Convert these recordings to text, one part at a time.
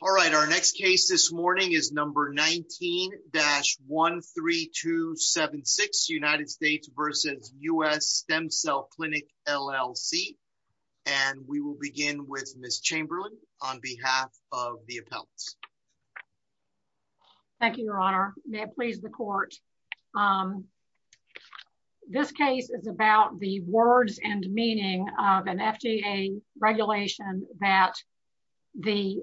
All right, our next case this morning is number 19-13276 United States v. US Stem Cell Clinic, LLC. And we will begin with Ms. Chamberlain on behalf of the appellants. Thank you, your honor. May it please the court. Um, this case is about the words and meaning of an FDA regulation that the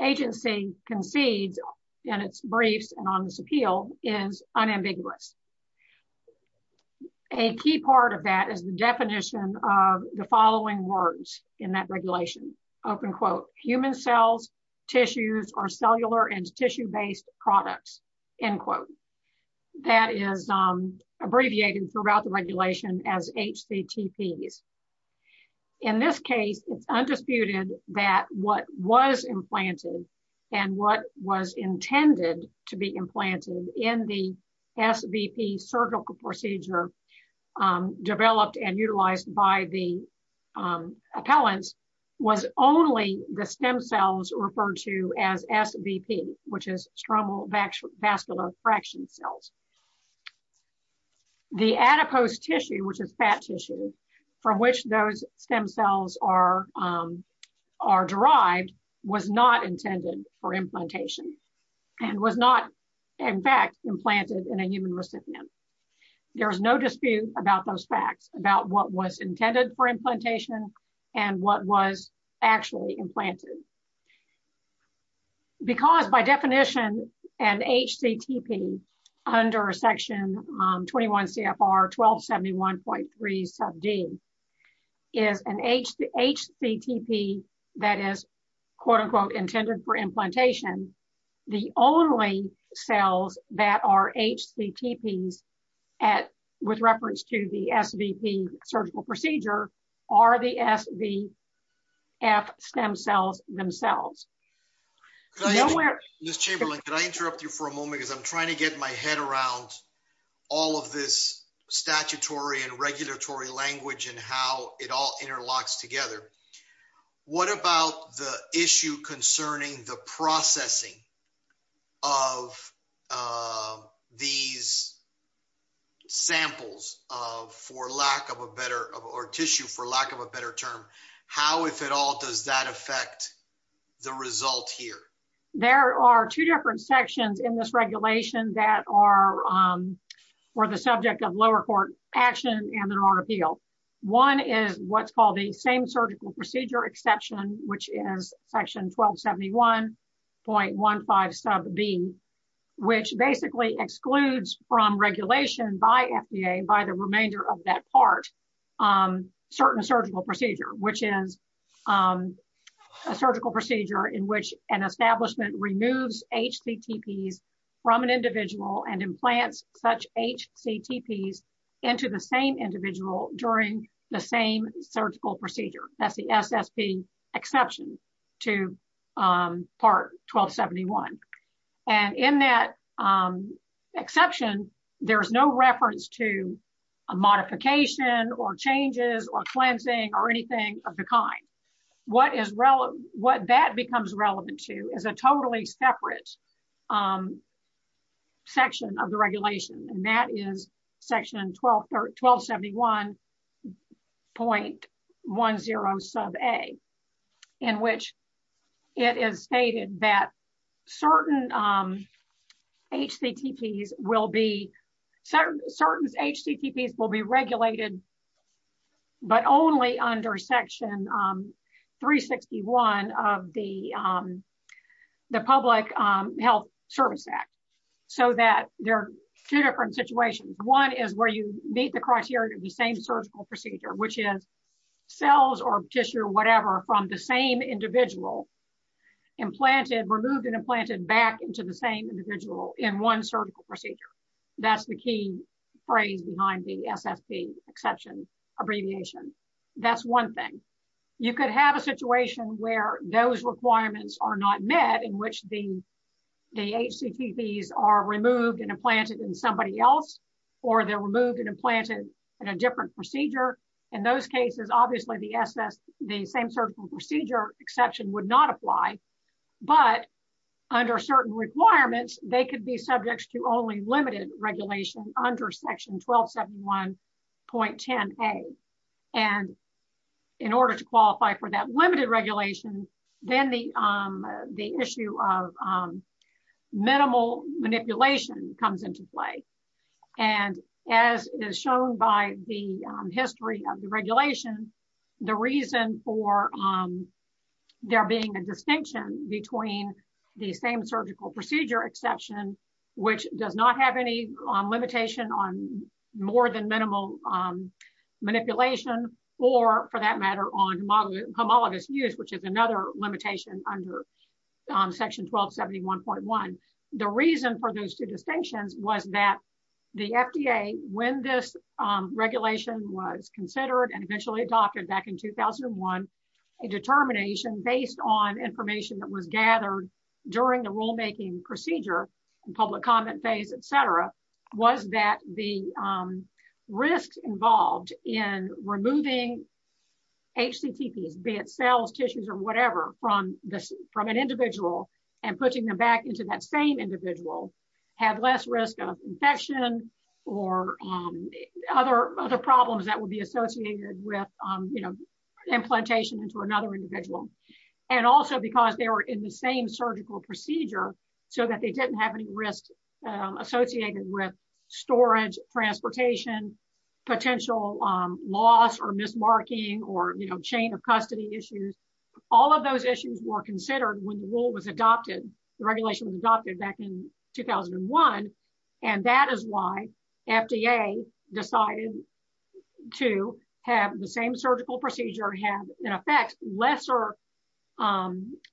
agency concedes in its briefs and on this appeal is unambiguous. A key part of that is the definition of the following words in that regulation, open quote, human cells, tissues or cellular and tissue based products, end quote. That is abbreviated throughout the regulation as HCTPs. In this case, it's undisputed that what was implanted and what was intended to be implanted in the SVP surgical procedure developed and utilized by the appellants was only the stem cells referred to as SVP, which is stromal vascular fraction cells. The adipose tissue, which is fat tissue from which those stem cells are derived was not intended for implantation and was not in fact implanted in a human recipient. There is no dispute about those facts about what was intended for implantation and what was actually implanted. Because by definition, an HCTP under section 21 CFR 1271.3 sub D is an HCTP that is, quote unquote, intended for implantation. The only cells that are HCTPs with reference to the SVP surgical procedure are the SVF stem cells themselves. Ms. Chamberlain, could I interrupt you for a moment because I'm trying to get my head around all of this statutory and regulatory language and how it all interlocks together. What about the issue concerning the processing of these samples for lack of a better, or tissue for lack of a better term? How, if at all, does that affect the result here? There are two different sections in this regulation that are the subject of lower court action and there are appeal. One is what's called the same surgical procedure exception, which is section 1271.15 sub B, which basically excludes from regulation by FDA by the remainder of that part certain surgical procedure, which is a surgical procedure in which an establishment removes HCTPs from an individual and implants such HCTPs into the same individual during the same surgical procedure. That's the SSP exception to part 1271. And in that exception, there's no reference to a modification or changes or cleansing or anything of the kind. What that becomes relevant to is a totally separate section of the regulation, and that is section 1271.10 sub A, in which it is stated that certain HCTPs will be regulated, but only under section 361 of the Public Health Service Act, so that there are two different situations. One is where you meet the criteria of the same surgical procedure, which is cells or tissue or whatever from the same individual implanted, removed and implanted back into the same individual in one surgical procedure. That's the key phrase behind the SSP exception abbreviation. That's one thing. You could have a situation where those requirements are not met in which the the HCTPs are removed and implanted in somebody else, or they're removed and implanted in a different procedure. In those cases, obviously, the SSP, the same surgical procedure exception would not apply. But under certain requirements, they could be subjects to only limited regulation under section 1271.10 A. In order to qualify for that limited regulation, then the issue of minimal manipulation comes into play. And as is shown by the history of the regulation, the reason for there being a distinction between the same surgical procedure exception, which does not have any limitation on more than minimal manipulation or, for that matter, on homologous use, which is another limitation under section 1271.1, the reason for those two distinctions was that the FDA, when this regulation was considered and eventually adopted back in 2001, a determination based on information that was gathered during the rulemaking procedure, public comment phase, etc., was that the risks involved in removing HCTPs, be it cells, tissues, or whatever, from an individual and putting them back into that same individual had less risk of infection or other problems that would be associated with, you know, implantation into another individual. And also because they were in the same surgical procedure, so that they didn't have any risk associated with storage, transportation, potential loss or mismarking or, you know, chain of custody issues. All of those issues were considered when the rule was adopted. The regulation was adopted back in 2001, and that is why FDA decided to have the same surgical procedure have, in effect, lesser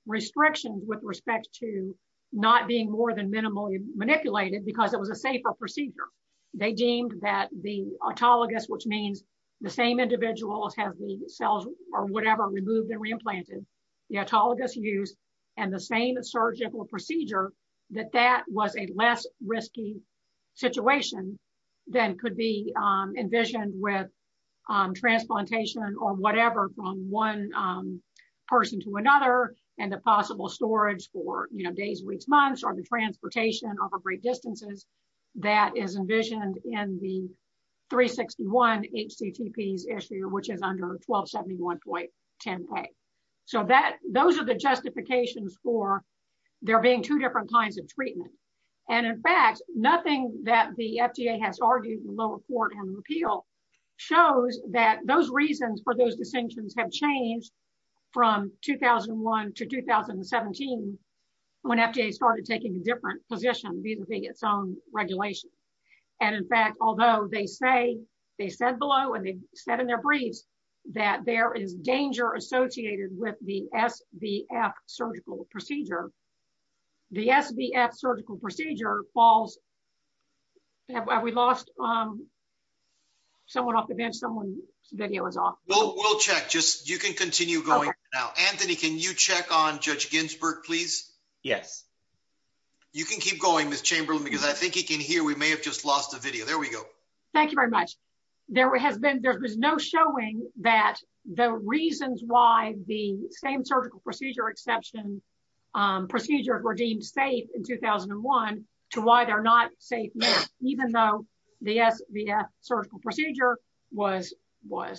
restrictions with respect to not being more than minimally manipulated because it was a safer procedure. They deemed that the autologous, which means the same individuals have the cells or whatever removed and re-implanted, the autologous use and the same surgical procedure, that that was a less risky situation than could be envisioned with transplantation or whatever from one person to another and the possible storage for, you know, days, weeks, months, or the transportation over great distances that is envisioned in the 361 HCTPs issue, which is under 1271.10a. So, those are the justifications for there being two different kinds of treatment. And, in fact, nothing that the FDA has argued in the lower court on the appeal shows that those reasons for those distinctions have changed from 2001 to 2017 when FDA started taking a different position vis-a-vis its own regulation. And, in fact, although they say, they said below and they said in their briefs that there is danger associated with the SVF surgical procedure, the SVF surgical procedure falls, have we lost someone off the bench? Someone's video is off. Well, we'll check. Just, you can continue going now. Anthony, can you check on Judge Ginsburg, please? Yes. You can keep going, Ms. Chamberlain, because I think he can hear. We may have just lost the video. There we go. Thank you very much. There has been, there was no showing that the reasons why the same surgical procedure exception procedures were deemed safe in 2001 to why they're not safe now, even though the SVF surgical procedure was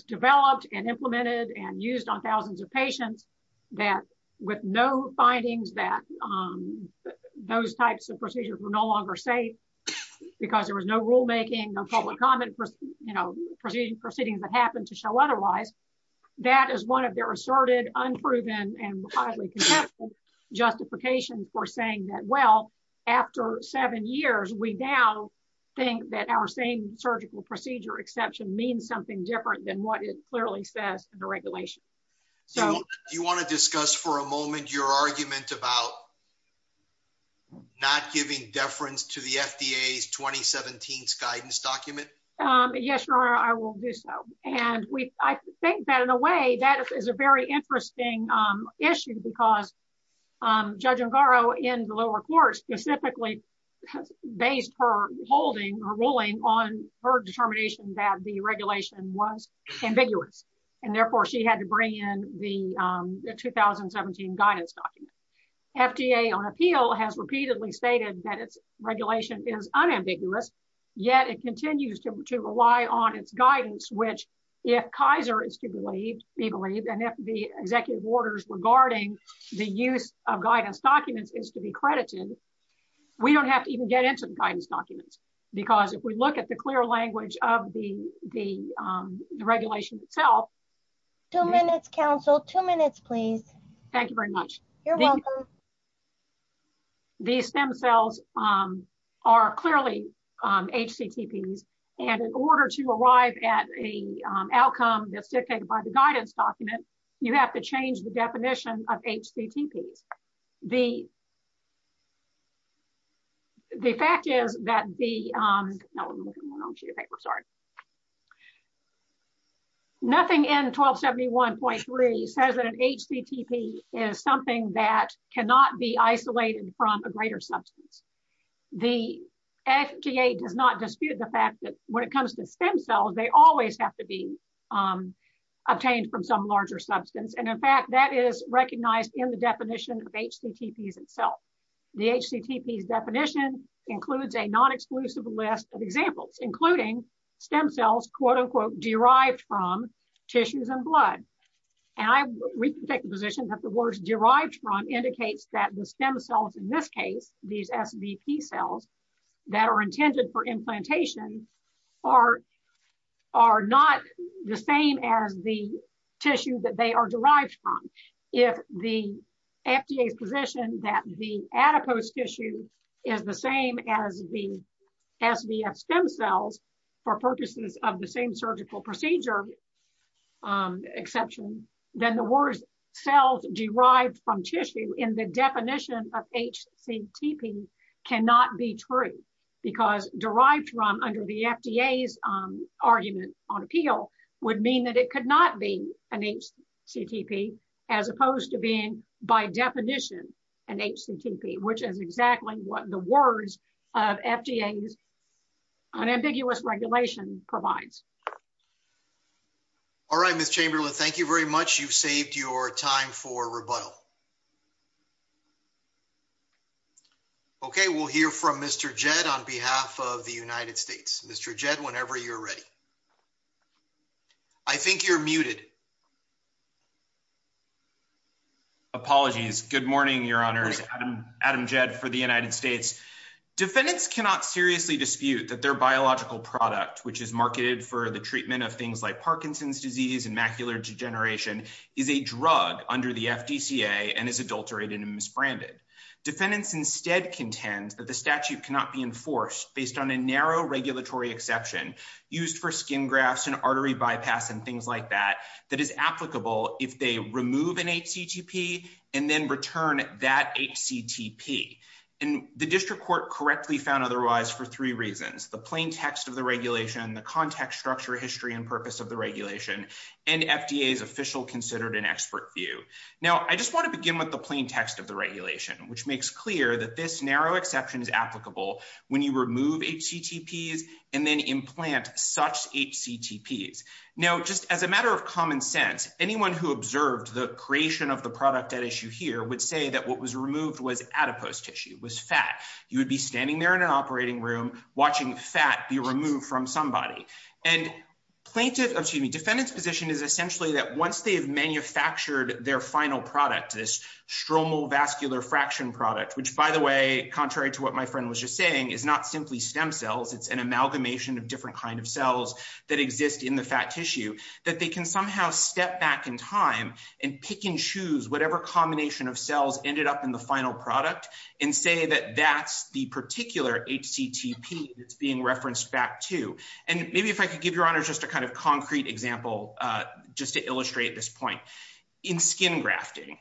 developed and implemented and used on thousands of patients that with no findings that those types of procedures were no longer safe because there was no rulemaking, no public comment, you know, proceedings that happened to show otherwise, that is one of their asserted, unproven, and widely contested justifications for saying that, well, after seven years, we now think that our same surgical procedure exception means something different than what it clearly says in the regulation. So, do you want to discuss for a moment your argument about not giving deference to the FDA's 2017 guidance document? Yes, Your Honor, I will do so. And we, I think that in a way that is a very interesting issue because Judge Ungaro in the lower court specifically based her holding, her ruling, on her determination that the regulation was ambiguous. And therefore, she had to bring in the 2017 guidance document. FDA on appeal has repeatedly stated that its regulation is unambiguous, yet it continues to rely on its guidance, which if Kaiser is to believe, be believed, and if the executive orders regarding the use of guidance documents is to be credited, we don't have to even get into the guidance documents. Because if we look at the clear language of the regulation itself. Two minutes, counsel. Two minutes, please. Thank you very much. You're welcome. These stem cells are clearly HCTPs. And in order to arrive at a outcome that's dictated by the guidance document, you have to change the definition of HCTPs. The, the fact is that the, sorry, nothing in 1271.3 says that an HCTP is something that cannot be isolated from a greater substance. The FDA does not dispute the fact that when it comes to stem cells, they always have to be And in fact, that is recognized in the definition of HCTPs itself. The HCTPs definition includes a non-exclusive list of examples, including stem cells, quote, unquote, derived from tissues and blood. And I, we can take the position that the words derived from indicates that the stem cells in this case, these SVP cells that are intended for implantation are are not the same as the tissue that they are derived from. If the FDA's position that the adipose tissue is the same as the SVF stem cells for purposes of the same surgical procedure exception, then the words cells derived from tissue in the definition of HCTP cannot be true because derived from under the FDA's argument on appeal would mean that it could not be an HCTP, as opposed to being by definition an HCTP, which is exactly what the words of FDA's unambiguous regulation provides. All right, Ms. Chamberlain, thank you very much. You've saved your time for rebuttal. Okay, we'll hear from Mr. Jed on behalf of the United States. Mr. Jed, whenever you're ready. I think you're muted. Apologies. Good morning, your honors. Adam Jed for the United States. Defendants cannot seriously dispute that their biological product, which is marketed for the treatment of things like Parkinson's disease and macular degeneration, is a drug under the FDCA and is adulterated and misbranded. Defendants instead contend that the statute cannot be enforced based on a narrow regulatory exception used for skin grafts and artery bypass and things like that, that is applicable if they remove an HCTP and then return that HCTP. And the district court correctly found otherwise for three reasons, the plain text of the regulation, the context, structure, history, and purpose of the regulation, and FDA's official considered and expert view. Now, I just want to begin with the plain text of the regulation, which makes clear that this narrow exception is applicable when you remove HCTPs and then implant such HCTPs. Now, just as a matter of common sense, anyone who observed the creation of the product at issue here would say that what was removed was adipose tissue, was fat. You would be standing there in an operating room watching fat be removed from somebody. And plaintiff, excuse me, defendant's position is essentially that once they have manufactured their final product, this stromal vascular fraction product, which by the way, contrary to what my friend was just saying, is not simply stem cells, it's an amalgamation of different kind of cells that exist in the fat tissue, that they can somehow step back in time and pick and choose whatever combination of cells ended up in the final product and say that that's the particular HCTP that's being referenced back to. And maybe if I could give your honors just a kind of concrete example, just to illustrate this point. In skin grafting,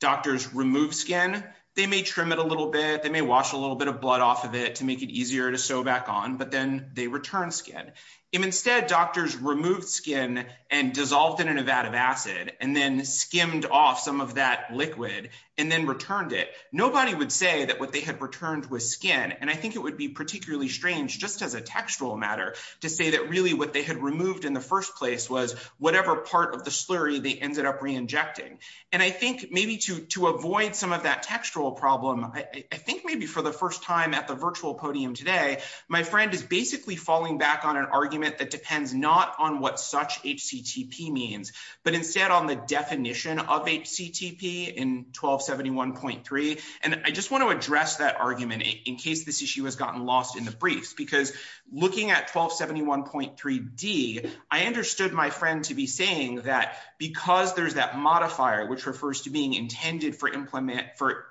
doctors remove skin, they may trim it a little bit, they may wash a little bit of blood off of it to make it easier to sew back on, but then they return skin. If instead doctors removed skin and dissolved it in a vat of acid, and then skimmed off some of that liquid, and then returned it, nobody would say that what they had returned was skin. And I think it would be particularly strange just as a textual matter to say that really what they had removed in the first place was whatever part of the slurry they ended up reinjecting. And I think maybe to avoid some of that textual problem, I think maybe for the first time at the virtual podium today, my friend is basically falling back on an argument that depends not on what such HCTP means, but instead on the definition of HCTP in 1271.3. And I just want to address that argument in case this issue has gotten lost in the briefs, because looking at 1271.3d, I understood my friend to be saying that because there's that modifier which refers to being intended for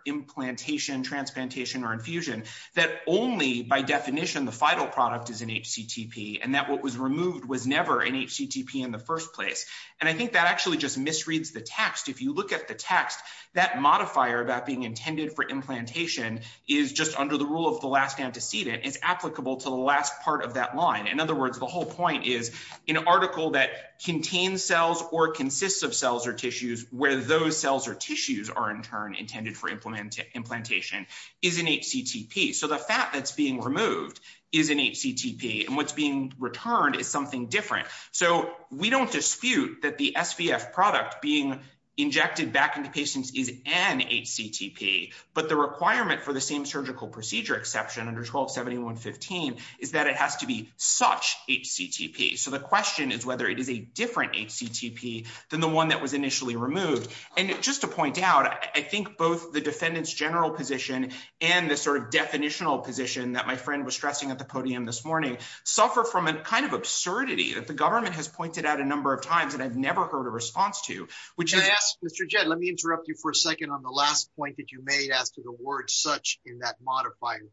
implantation, transplantation, or infusion, that only by definition the final product is an HCTP, and that what was removed was never an HCTP in the first place. And I think that actually just misreads the text. If you look at the text, that modifier about being intended for implantation is just under the rule of the last antecedent, it's applicable to the last part of that line. In other words, the whole point is an article that contains cells or consists of cells or tissues where those cells or tissues are in turn intended for implantation is an HCTP. So the fat that's being removed is an HCTP, and what's being returned is something different. So we don't dispute that the SVF product being injected back into patients is an HCTP, but the requirement for the same surgical procedure exception under 1271.15 is that it has to be such HCTP. So the question is whether it is a different HCTP than the one that was initially removed. And just to point out, I think both the defendant's general position and the sort of definitional position that my friend was stressing at the podium this morning suffer from a kind of absurdity that the government has pointed out a number of times that I've never heard a response to. Which I ask Mr. Jett, let me interrupt you for a second on the last point that you made as to the word such in that modifier.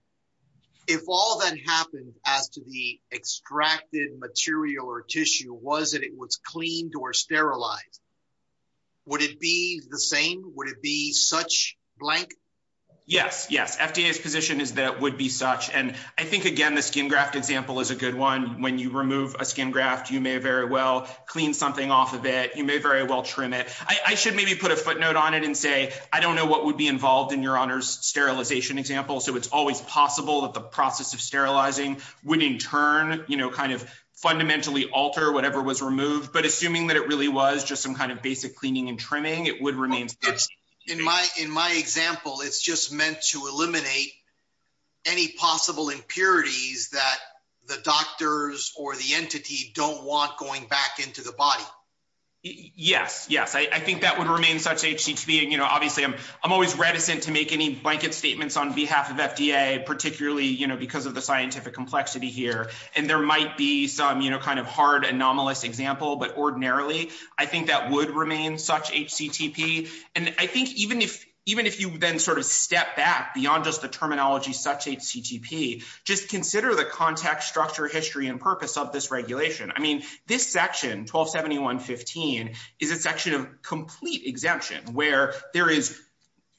If all that happened as to the extracted material or tissue was that it was cleaned or sterilized, would it be the same? Would it be such blank? Yes, yes. FDA's position is that would be such, and I think again the skin graft example is a good when you remove a skin graft, you may very well clean something off of it. You may very well trim it. I should maybe put a footnote on it and say I don't know what would be involved in your honor's sterilization example. So it's always possible that the process of sterilizing would in turn, you know, kind of fundamentally alter whatever was removed. But assuming that it really was just some kind of basic cleaning and trimming, it would remain. In my example, it's just meant to eliminate any possible impurities that the doctors or the entity don't want going back into the body. Yes, yes. I think that would remain such HCT being, you know, obviously I'm always reticent to make any blanket statements on behalf of FDA, particularly, you know, because of the scientific complexity here. And there might be some, you know, kind of hard anomalous example, but ordinarily I think that would remain such HCTP. And I think even if, even if you then sort of step back beyond just the terminology such HCTP, just consider the context, structure, history, and purpose of this regulation. I mean, this section 1271.15 is a section of complete exemption where there is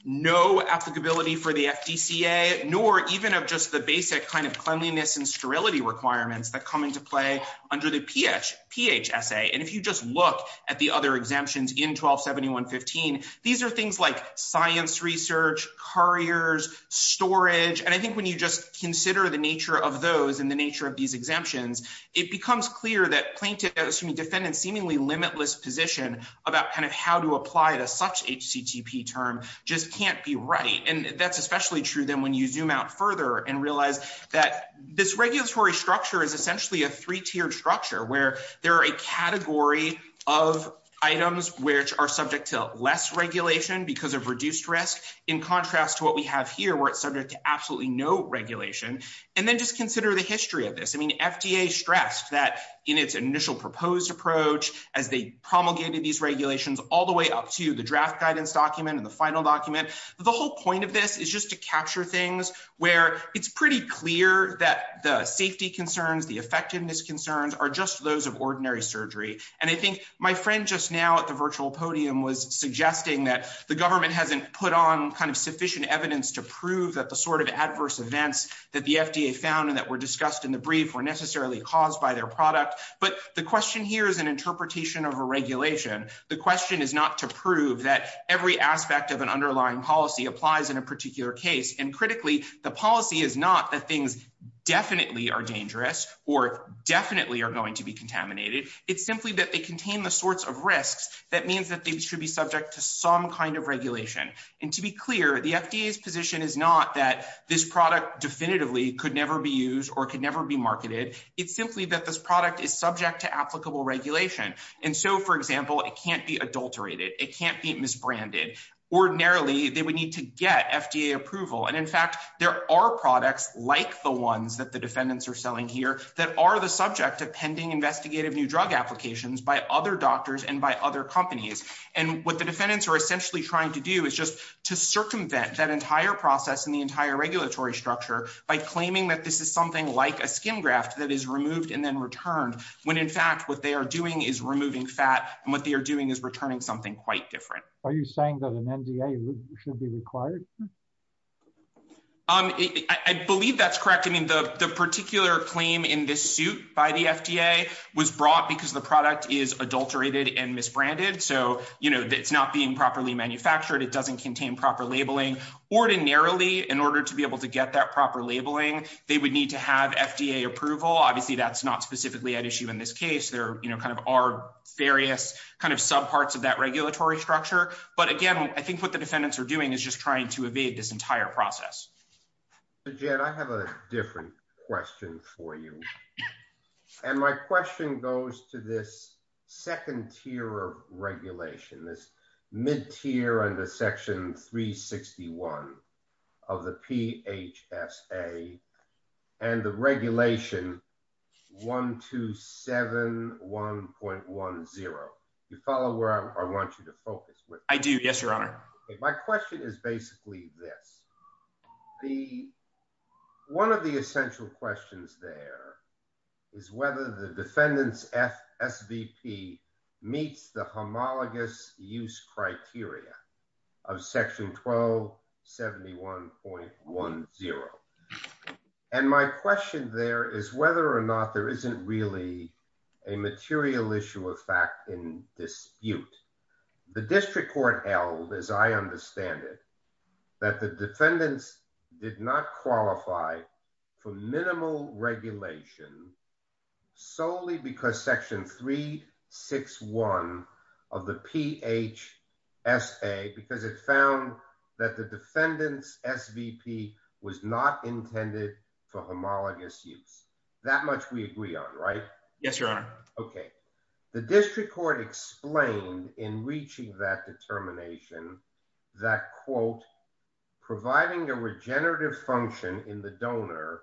no applicability for the FDCA, nor even of just the basic kind of cleanliness and sterility requirements that come into play under the PHSA. And if you just look at the other exemptions in 1271.15, these are things like science research, couriers, storage. And I think when you just consider the nature of those and the nature of these exemptions, it becomes clear that plaintiffs, excuse me, defendants seemingly limitless position about kind of how to apply to such HCTP term just can't be right. And that's especially true then when you zoom out further and realize that this regulatory structure is essentially a three tiered structure where there are a category of items which are subject to less regulation because of reduced risk in contrast to what we have here where it's subject to absolutely no regulation. And then just consider the history of this. I mean, FDA stressed that in its initial proposed approach, as they promulgated these regulations all the way up to the draft guidance document and the final document. The whole point of this is just to capture things where it's pretty clear that the safety concerns, the effectiveness concerns are just those of ordinary surgery. And I think my friend just now at the virtual podium was suggesting that the government hasn't put on kind of sufficient evidence to prove that the sort of adverse events that the FDA found and that were discussed in the brief were necessarily caused by their product. But the question here is an interpretation of a regulation. The question is not to prove that every aspect of an underlying policy applies in a particular case. And critically, the policy is not that things definitely are dangerous or definitely are going to be contaminated. It's simply that they contain the sorts of risks that means that they should be subject to some kind of regulation. And to be clear, the FDA's position is not that this product definitively could never be used or could never be marketed. It's simply that this product is subject to applicable regulation. And so, for example, it can't be adulterated. It can't be misbranded. Ordinarily, they would need to get FDA approval. And in fact, there are products like the ones that the defendants are selling here that are the subject of pending investigative new drug applications by other doctors and by other companies. And what the defendants are essentially trying to do is just to circumvent that entire process and the entire regulatory structure by claiming that this is like a skin graft that is removed and then returned, when in fact what they are doing is removing fat and what they are doing is returning something quite different. Are you saying that an NDA should be required? I believe that's correct. I mean, the particular claim in this suit by the FDA was brought because the product is adulterated and misbranded. So, you know, it's not being properly manufactured. It doesn't contain proper labeling. Ordinarily, in order to be able to get that proper labeling, they would need to have FDA approval. Obviously, that's not specifically at issue in this case. There are various subparts of that regulatory structure. But again, I think what the defendants are doing is just trying to evade this entire process. Jed, I have a different question for you. And my question goes to this second tier of regulation, this mid-tier under Section 361 of the PHSA and the Regulation 1271.10. Do you follow where I want you to focus? I do. Yes, Your Honor. My question is basically this. One of the essential questions there is whether the defendant's SVP meets the homologous use criteria of Section 1271.10. And my question there is whether or not there isn't really a material issue of fact in dispute. The district court held, as I understand it, that the defendants did not qualify for minimal regulation solely because Section 361 of the PHSA because it found that the defendant's SVP was not intended for homologous use. That much we agree on, right? Yes, Your Honor. Okay. The district court explained in reaching that determination that, quote, providing a regenerative function in the donor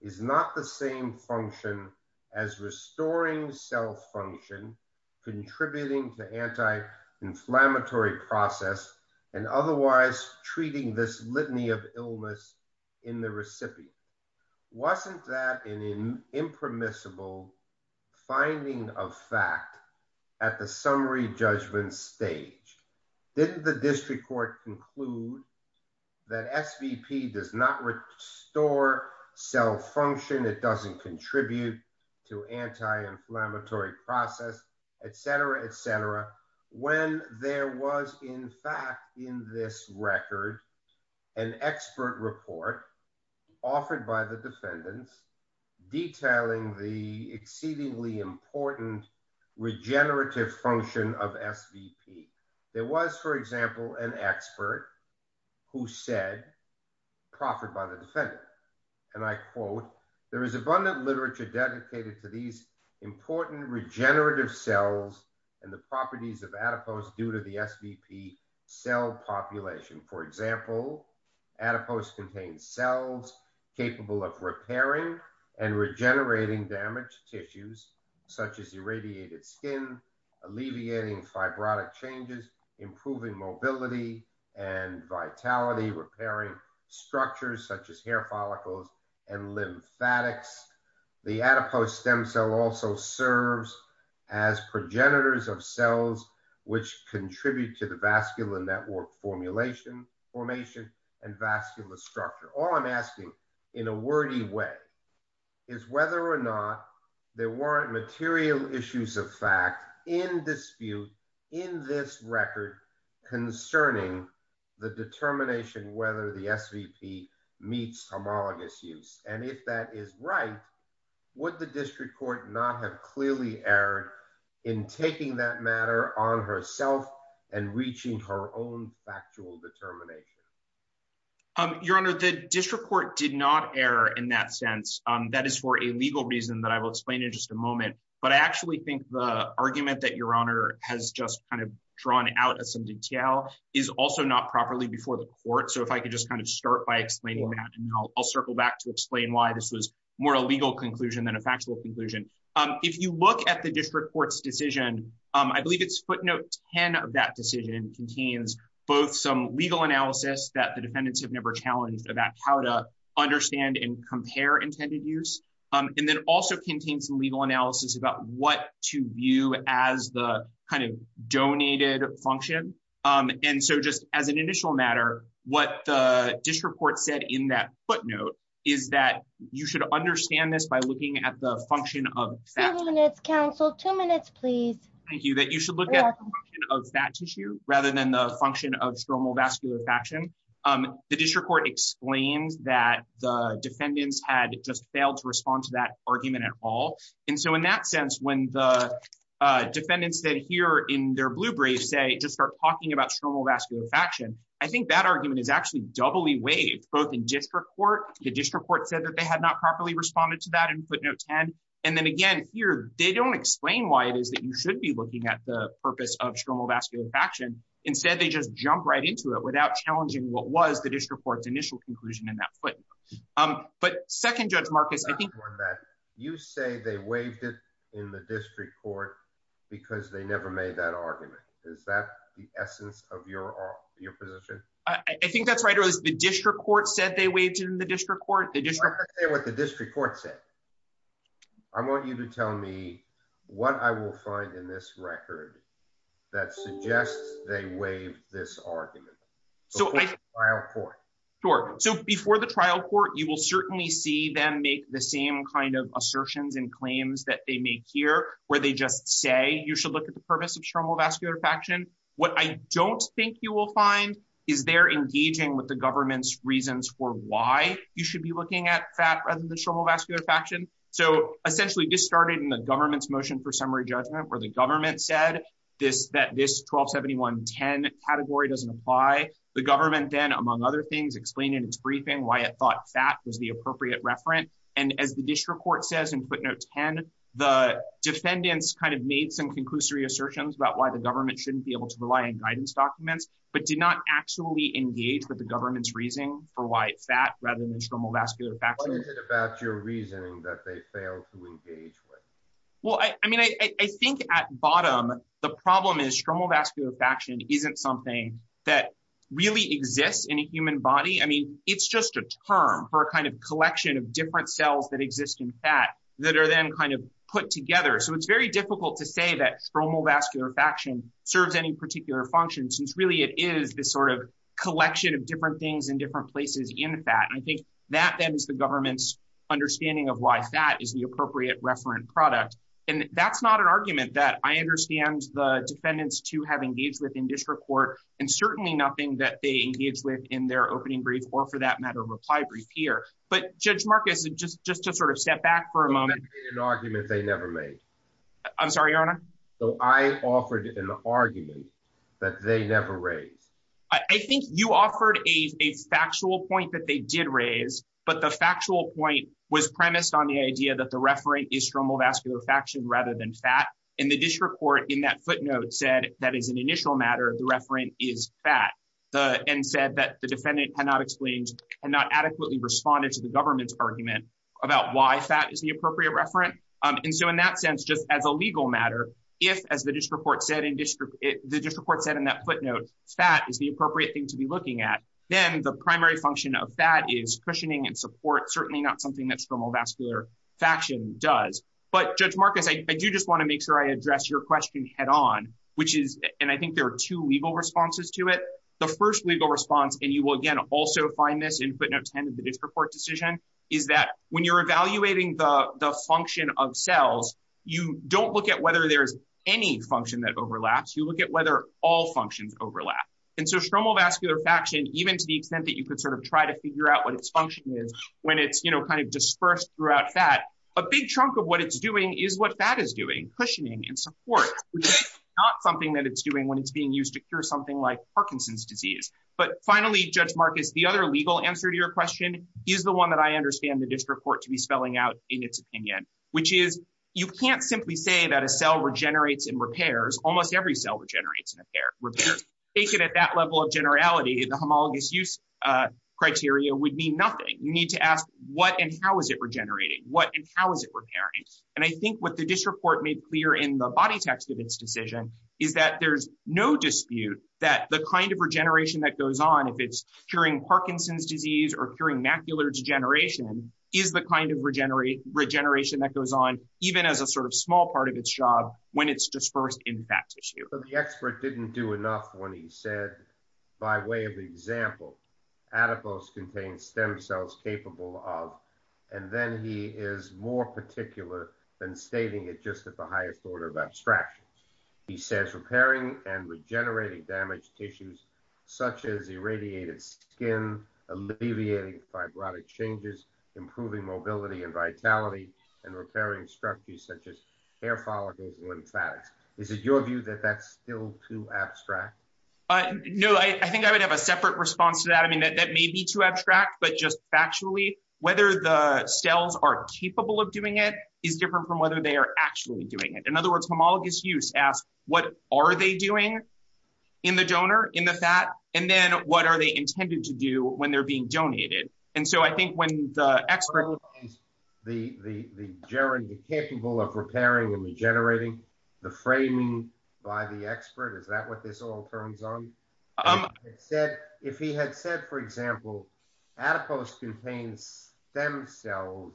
is not the same function as restoring self-function, contributing to anti-inflammatory process, and otherwise treating this litany of illness in the recipient. Wasn't that an impermissible finding of fact at the summary judgment stage? Didn't the district court conclude that SVP does not restore self-function, it doesn't contribute to anti-inflammatory process, et cetera, et cetera, when there was, in fact, in this record, an expert report offered by the defendants detailing the exceedingly important regenerative function of SVP? There was, for example, an expert who said, proffered by the defendant, and I quote, there is abundant literature dedicated to these populations. For example, adipose contains cells capable of repairing and regenerating damaged tissues such as irradiated skin, alleviating fibrotic changes, improving mobility and vitality, repairing structures such as hair follicles and lymphatics. The adipose stem cell also serves as progenitors of cells which contribute to the vascular network formulation, formation, and vascular structure. All I'm asking in a wordy way is whether or not there weren't material issues of fact in dispute in this record concerning the determination whether the SVP meets homologous use. And if that is right, would the district court not have clearly erred in taking that matter on herself and reaching her own factual determination? Your Honor, the district court did not err in that sense. That is for a legal reason that I will explain in just a moment. But I actually think the argument that Your Honor has just kind of drawn out as some detail is also not properly before the court. So if I could just kind of start by explaining that, and I'll circle back to explain why this was more a legal conclusion than a factual conclusion. If you look at the district court's decision, I believe it's footnote 10 of that decision contains both some legal analysis that the defendants have never challenged about how to understand and compare intended use, and then also contains legal analysis about what to view as the kind of donated function. And so just as an initial matter, what the district court said in that footnote, is that you should understand this by looking at the function of counsel two minutes, please. Thank you that you should look at that tissue rather than the function of stromal vascular faction. The district court explains that the defendants had just failed to respond to that argument at all. And so in that sense, when the defendants that here in their blue braids say just start talking about stromal vascular faction, I think that argument is actually doubly waived both in district court, the district court said that they had not properly responded to that in footnotes. And, and then again, here, they don't explain why it is that you should be looking at the purpose of stromal vascular faction. Instead, they just jump right into it without challenging what was the district court's initial conclusion in that footnote. But second, Judge Marcus, I think that you say they waived it in the district court, because they never made that argument. Is that the essence of your, your position? I think that's right. It was the district court said they waived in the district court, they just say what the district court said. I want you to tell me what I will find in this record, that suggests they waive this argument. So before the trial court, you will certainly see them make the same kind of assertions and claims that they make here, where they just say you should look at the purpose of stromal vascular faction. What I don't think you will find is they're engaging with the government's reasons for why you should be looking at fat rather than stromal vascular faction. So essentially, this started in the government's motion for summary judgment where the government said this that this 1271 10 category doesn't apply. The government then, among other things, explained in its briefing why it thought fat was the appropriate referent. And as the district court says in footnote 10, the defendants kind of made some conclusory assertions about why the government shouldn't be able to rely on guidance documents, but did not actually engage with the government's reason for why fat rather than stromal vascular factor about your reasoning that they fail to engage with? Well, I mean, I think at bottom, the problem is stromal vascular faction isn't something that really exists in a human body. I mean, it's just a term for a kind of collection of different cells that exist in fat that are then kind of put together. So it's very difficult to say that stromal vascular faction serves any particular function, since really, it is this sort of collection of different things in different places in fat. I think that then is the government's understanding of why fat is the appropriate referent product. And that's not an argument that I understand the defendants to have engaged with or for that matter, reply brief here. But Judge Marcus, just just to sort of step back for a moment, an argument they never made. I'm sorry, Your Honor. So I offered an argument that they never raised. I think you offered a factual point that they did raise. But the factual point was premised on the idea that the referent is stromal vascular faction rather than fat. And the district court in that footnote said that is an initial matter, the referent is fat, and said that the defendant cannot explain and not adequately responded to the government's argument about why fat is the appropriate referent. And so in that sense, just as a legal matter, if as the district court said in district, the district court said in that footnote, fat is the appropriate thing to be looking at, then the primary function of fat is cushioning and support, certainly not something that stromal vascular faction does. But Judge Marcus, I do just want to make sure I address your question head on, which is, and I think there are two legal responses to it. The first legal response, and you will again also find this in footnotes 10 of the district court decision, is that when you're evaluating the function of cells, you don't look at whether there's any function that overlaps, you look at whether all functions overlap. And so stromal vascular faction, even to the extent that you could sort of try to figure out what its function is, when it's, you know, kind of dispersed throughout fat, a big chunk of what it's doing is what fat is doing, cushioning and support, which is not something that it's doing when it's being used to cure something like Parkinson's disease. But finally, Judge Marcus, the other legal answer to your question is the one that I understand the district court to be spelling out in its opinion, which is, you can't simply say that a cell regenerates and repairs, almost every cell regenerates and repairs. Take it at that level of generality, the homologous use criteria would mean nothing. You need to ask what and how is it regenerating? What and how is it repairing? And I think what the district court made clear in the body text of its decision is that there's no dispute that the kind of regeneration that goes on, if it's curing Parkinson's disease or curing macular degeneration is the kind of regeneration that goes on, even as a sort of small part of its job when it's dispersed in fat tissue. So the expert didn't do enough when he said, by way of example, adipose contains stem cells capable of, and then he is more particular than stating it just at the highest order of abstractions. He says repairing and regenerating damaged tissues such as irradiated skin, alleviating fibrotic changes, improving mobility and vitality and repairing structures such as hair follicles and lymphatics. Is it your view that that's still too abstract? No, I think I would have a separate response to that. I mean, that may be too abstract, but just factually, whether the cells are capable of repairing and regenerating is different from whether they are actually doing it. In other words, homologous use asks, what are they doing in the donor, in the fat? And then what are they intended to do when they're being donated? And so I think when the expert- So what is the germ capable of repairing and regenerating, the framing by the expert, is that what this all turns on? If he had said, for example, adipose contains stem cells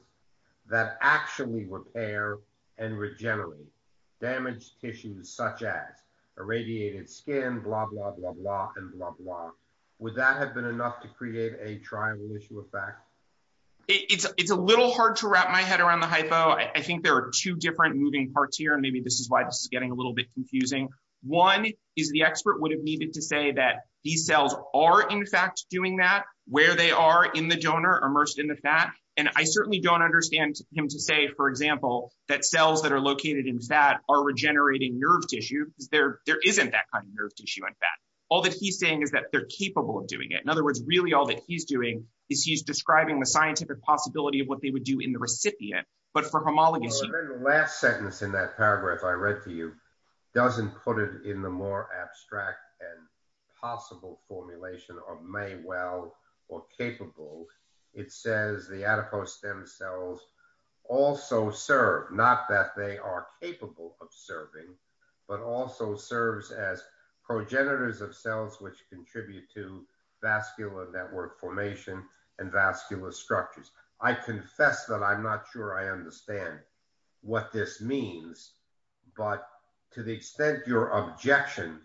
and regenerate damaged tissues such as irradiated skin, blah, blah, blah, blah, and blah, blah, would that have been enough to create a trivalent effect? It's a little hard to wrap my head around the hypo. I think there are two different moving parts here, and maybe this is why this is getting a little bit confusing. One is the expert would have needed to say that these cells are in fact doing that where they are in the donor, immersed in the fat. And I certainly don't understand him to say, for example, that cells that are located in fat are regenerating nerve tissue because there isn't that kind of nerve tissue in fat. All that he's saying is that they're capable of doing it. In other words, really all that he's doing is he's describing the scientific possibility of what they would do in the recipient, but for homologous use- Well, I remember the last sentence in that paragraph I read to you doesn't put it in the more abstract and possible formulation of well or capable. It says the adipose stem cells also serve, not that they are capable of serving, but also serves as progenitors of cells which contribute to vascular network formation and vascular structures. I confess that I'm not sure I understand what this means, but to the extent your objection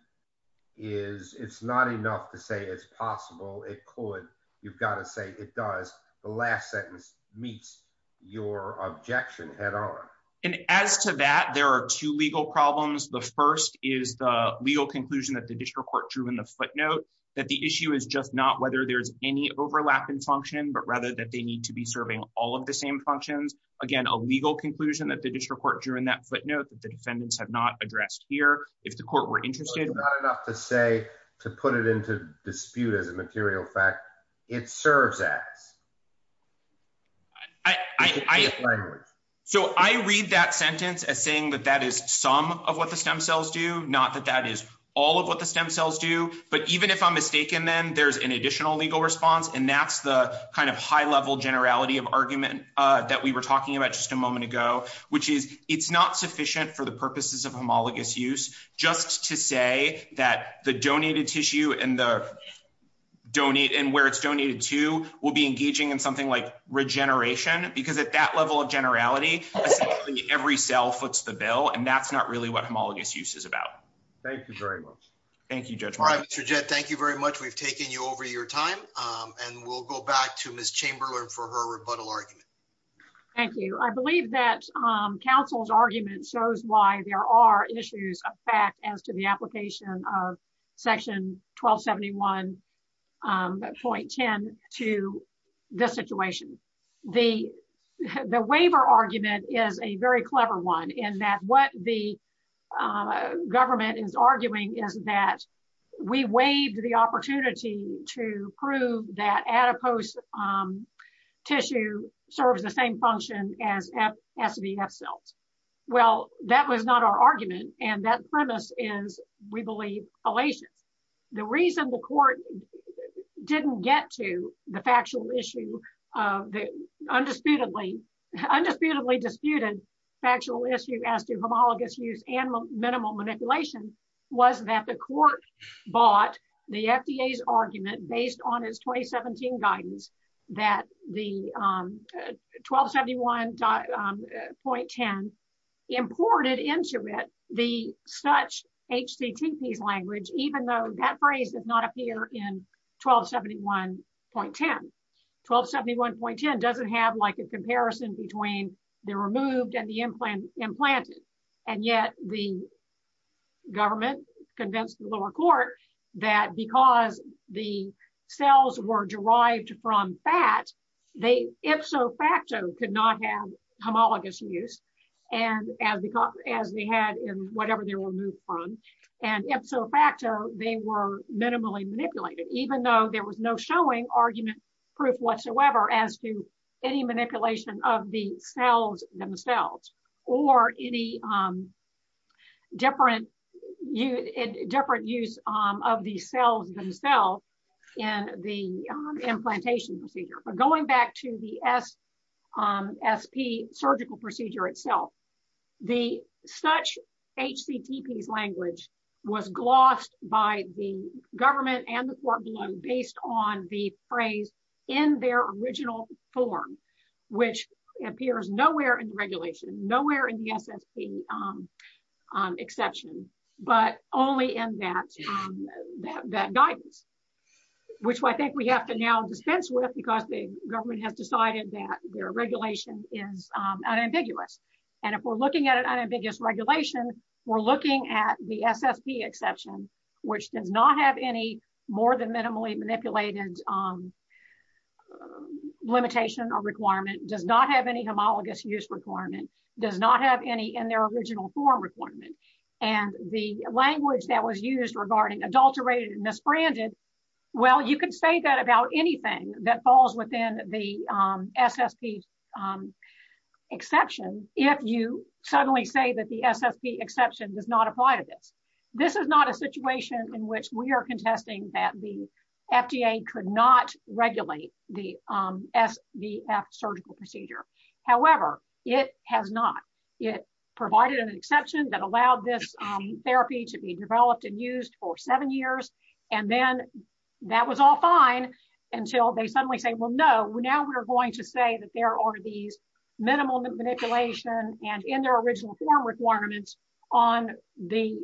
is it's not enough to say it's possible, it could, you've got to say it does. The last sentence meets your objection head on. And as to that, there are two legal problems. The first is the legal conclusion that the district court drew in the footnote that the issue is just not whether there's any overlap in function, but rather that they need to be serving all of the same functions. Again, a legal conclusion that the district court drew in that footnote that the defendants have not addressed here. If the court were interested- It's not enough to say, to put it into dispute as a material fact, it serves as. So I read that sentence as saying that that is some of what the stem cells do, not that that is all of what the stem cells do. But even if I'm mistaken then, there's an additional legal response. And that's the kind of high level generality of argument that we were talking about just a moment ago, which is it's not sufficient for the purposes of homologous use just to say that the donated tissue and where it's donated to will be engaging in something like regeneration. Because at that level of generality, essentially every cell foots the bill. And that's not really what homologous use is about. Thank you very much. Thank you, Judge Martin. All right, Mr. Jett, thank you very much. We've taken you over your time. And we'll go back to Ms. Chamberlain for her rebuttal argument. Thank you. I believe that counsel's argument shows why there are issues of fact as to the application of section 1271.10 to this situation. The waiver argument is a very clever one in that what the government is arguing is that we waived the opportunity to prove that adipose tissue serves the same function as SVF cells. Well, that was not our argument. And that premise is, we believe, fallacious. The reason the court didn't get to the factually issue of the undisputedly disputed factual issue as to homologous use and minimal manipulation was that the court bought the FDA's argument based on its 2017 guidance that the 1271.10 imported into it the such HCTPs language, even though that phrase does not appear in 1271.10. 1271.10 doesn't have a comparison between the removed and the implanted. And yet the government convinced the lower court that because the cells were derived from fat, they ipso facto could not have homologous use as they had in whatever they were removed from. And ipso facto, they were minimally manipulated, even though there was no showing argument proof whatsoever as to any manipulation of the cells themselves, or any different use of the cells themselves in the implantation procedure. But going back to the SP surgical procedure itself, the such HCTPs language was glossed by the government and the court below based on the phrase in their original form, which appears nowhere in regulation, nowhere in the SSP exception, but only in that, that guidance, which I think we have to now dispense with, because the government has decided that their regulation is unambiguous. And if we're looking at an unambiguous regulation, we're looking at the SSP exception, which does not have any more than minimally manipulated limitation or requirement, does not have any homologous use requirement, does not have any in their original form requirement. And the language that was used regarding adulterated and misbranded, well, you could say that about anything that falls within the SSP exception, if you suddenly say that the SSP exception does not apply to this. This is not a situation in which we are contesting that the FDA could not regulate the SVF surgical procedure. However, it has not. It provided an exception that allowed this therapy to be developed and used for seven years. And then that was all fine until they suddenly say, well, no, now we're going to say that there are these minimal manipulation and in their original form requirements on the,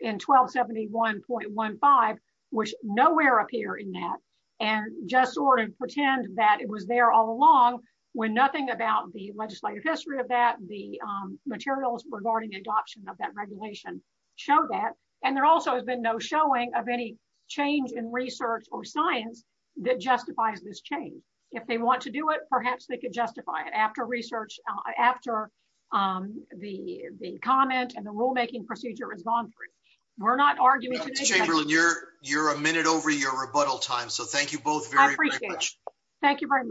in 1271.15, which nowhere appear in that, and just sort of pretend that it was there all along, when nothing about the legislative history of that, the materials regarding adoption of that has been no showing of any change in research or science that justifies this change. If they want to do it, perhaps they could justify it after research, after the comment and the rulemaking procedure is gone through. We're not arguing today. Ms. Chamberlain, you're a minute over your rebuttal time, so thank you both very much. Thank you very much.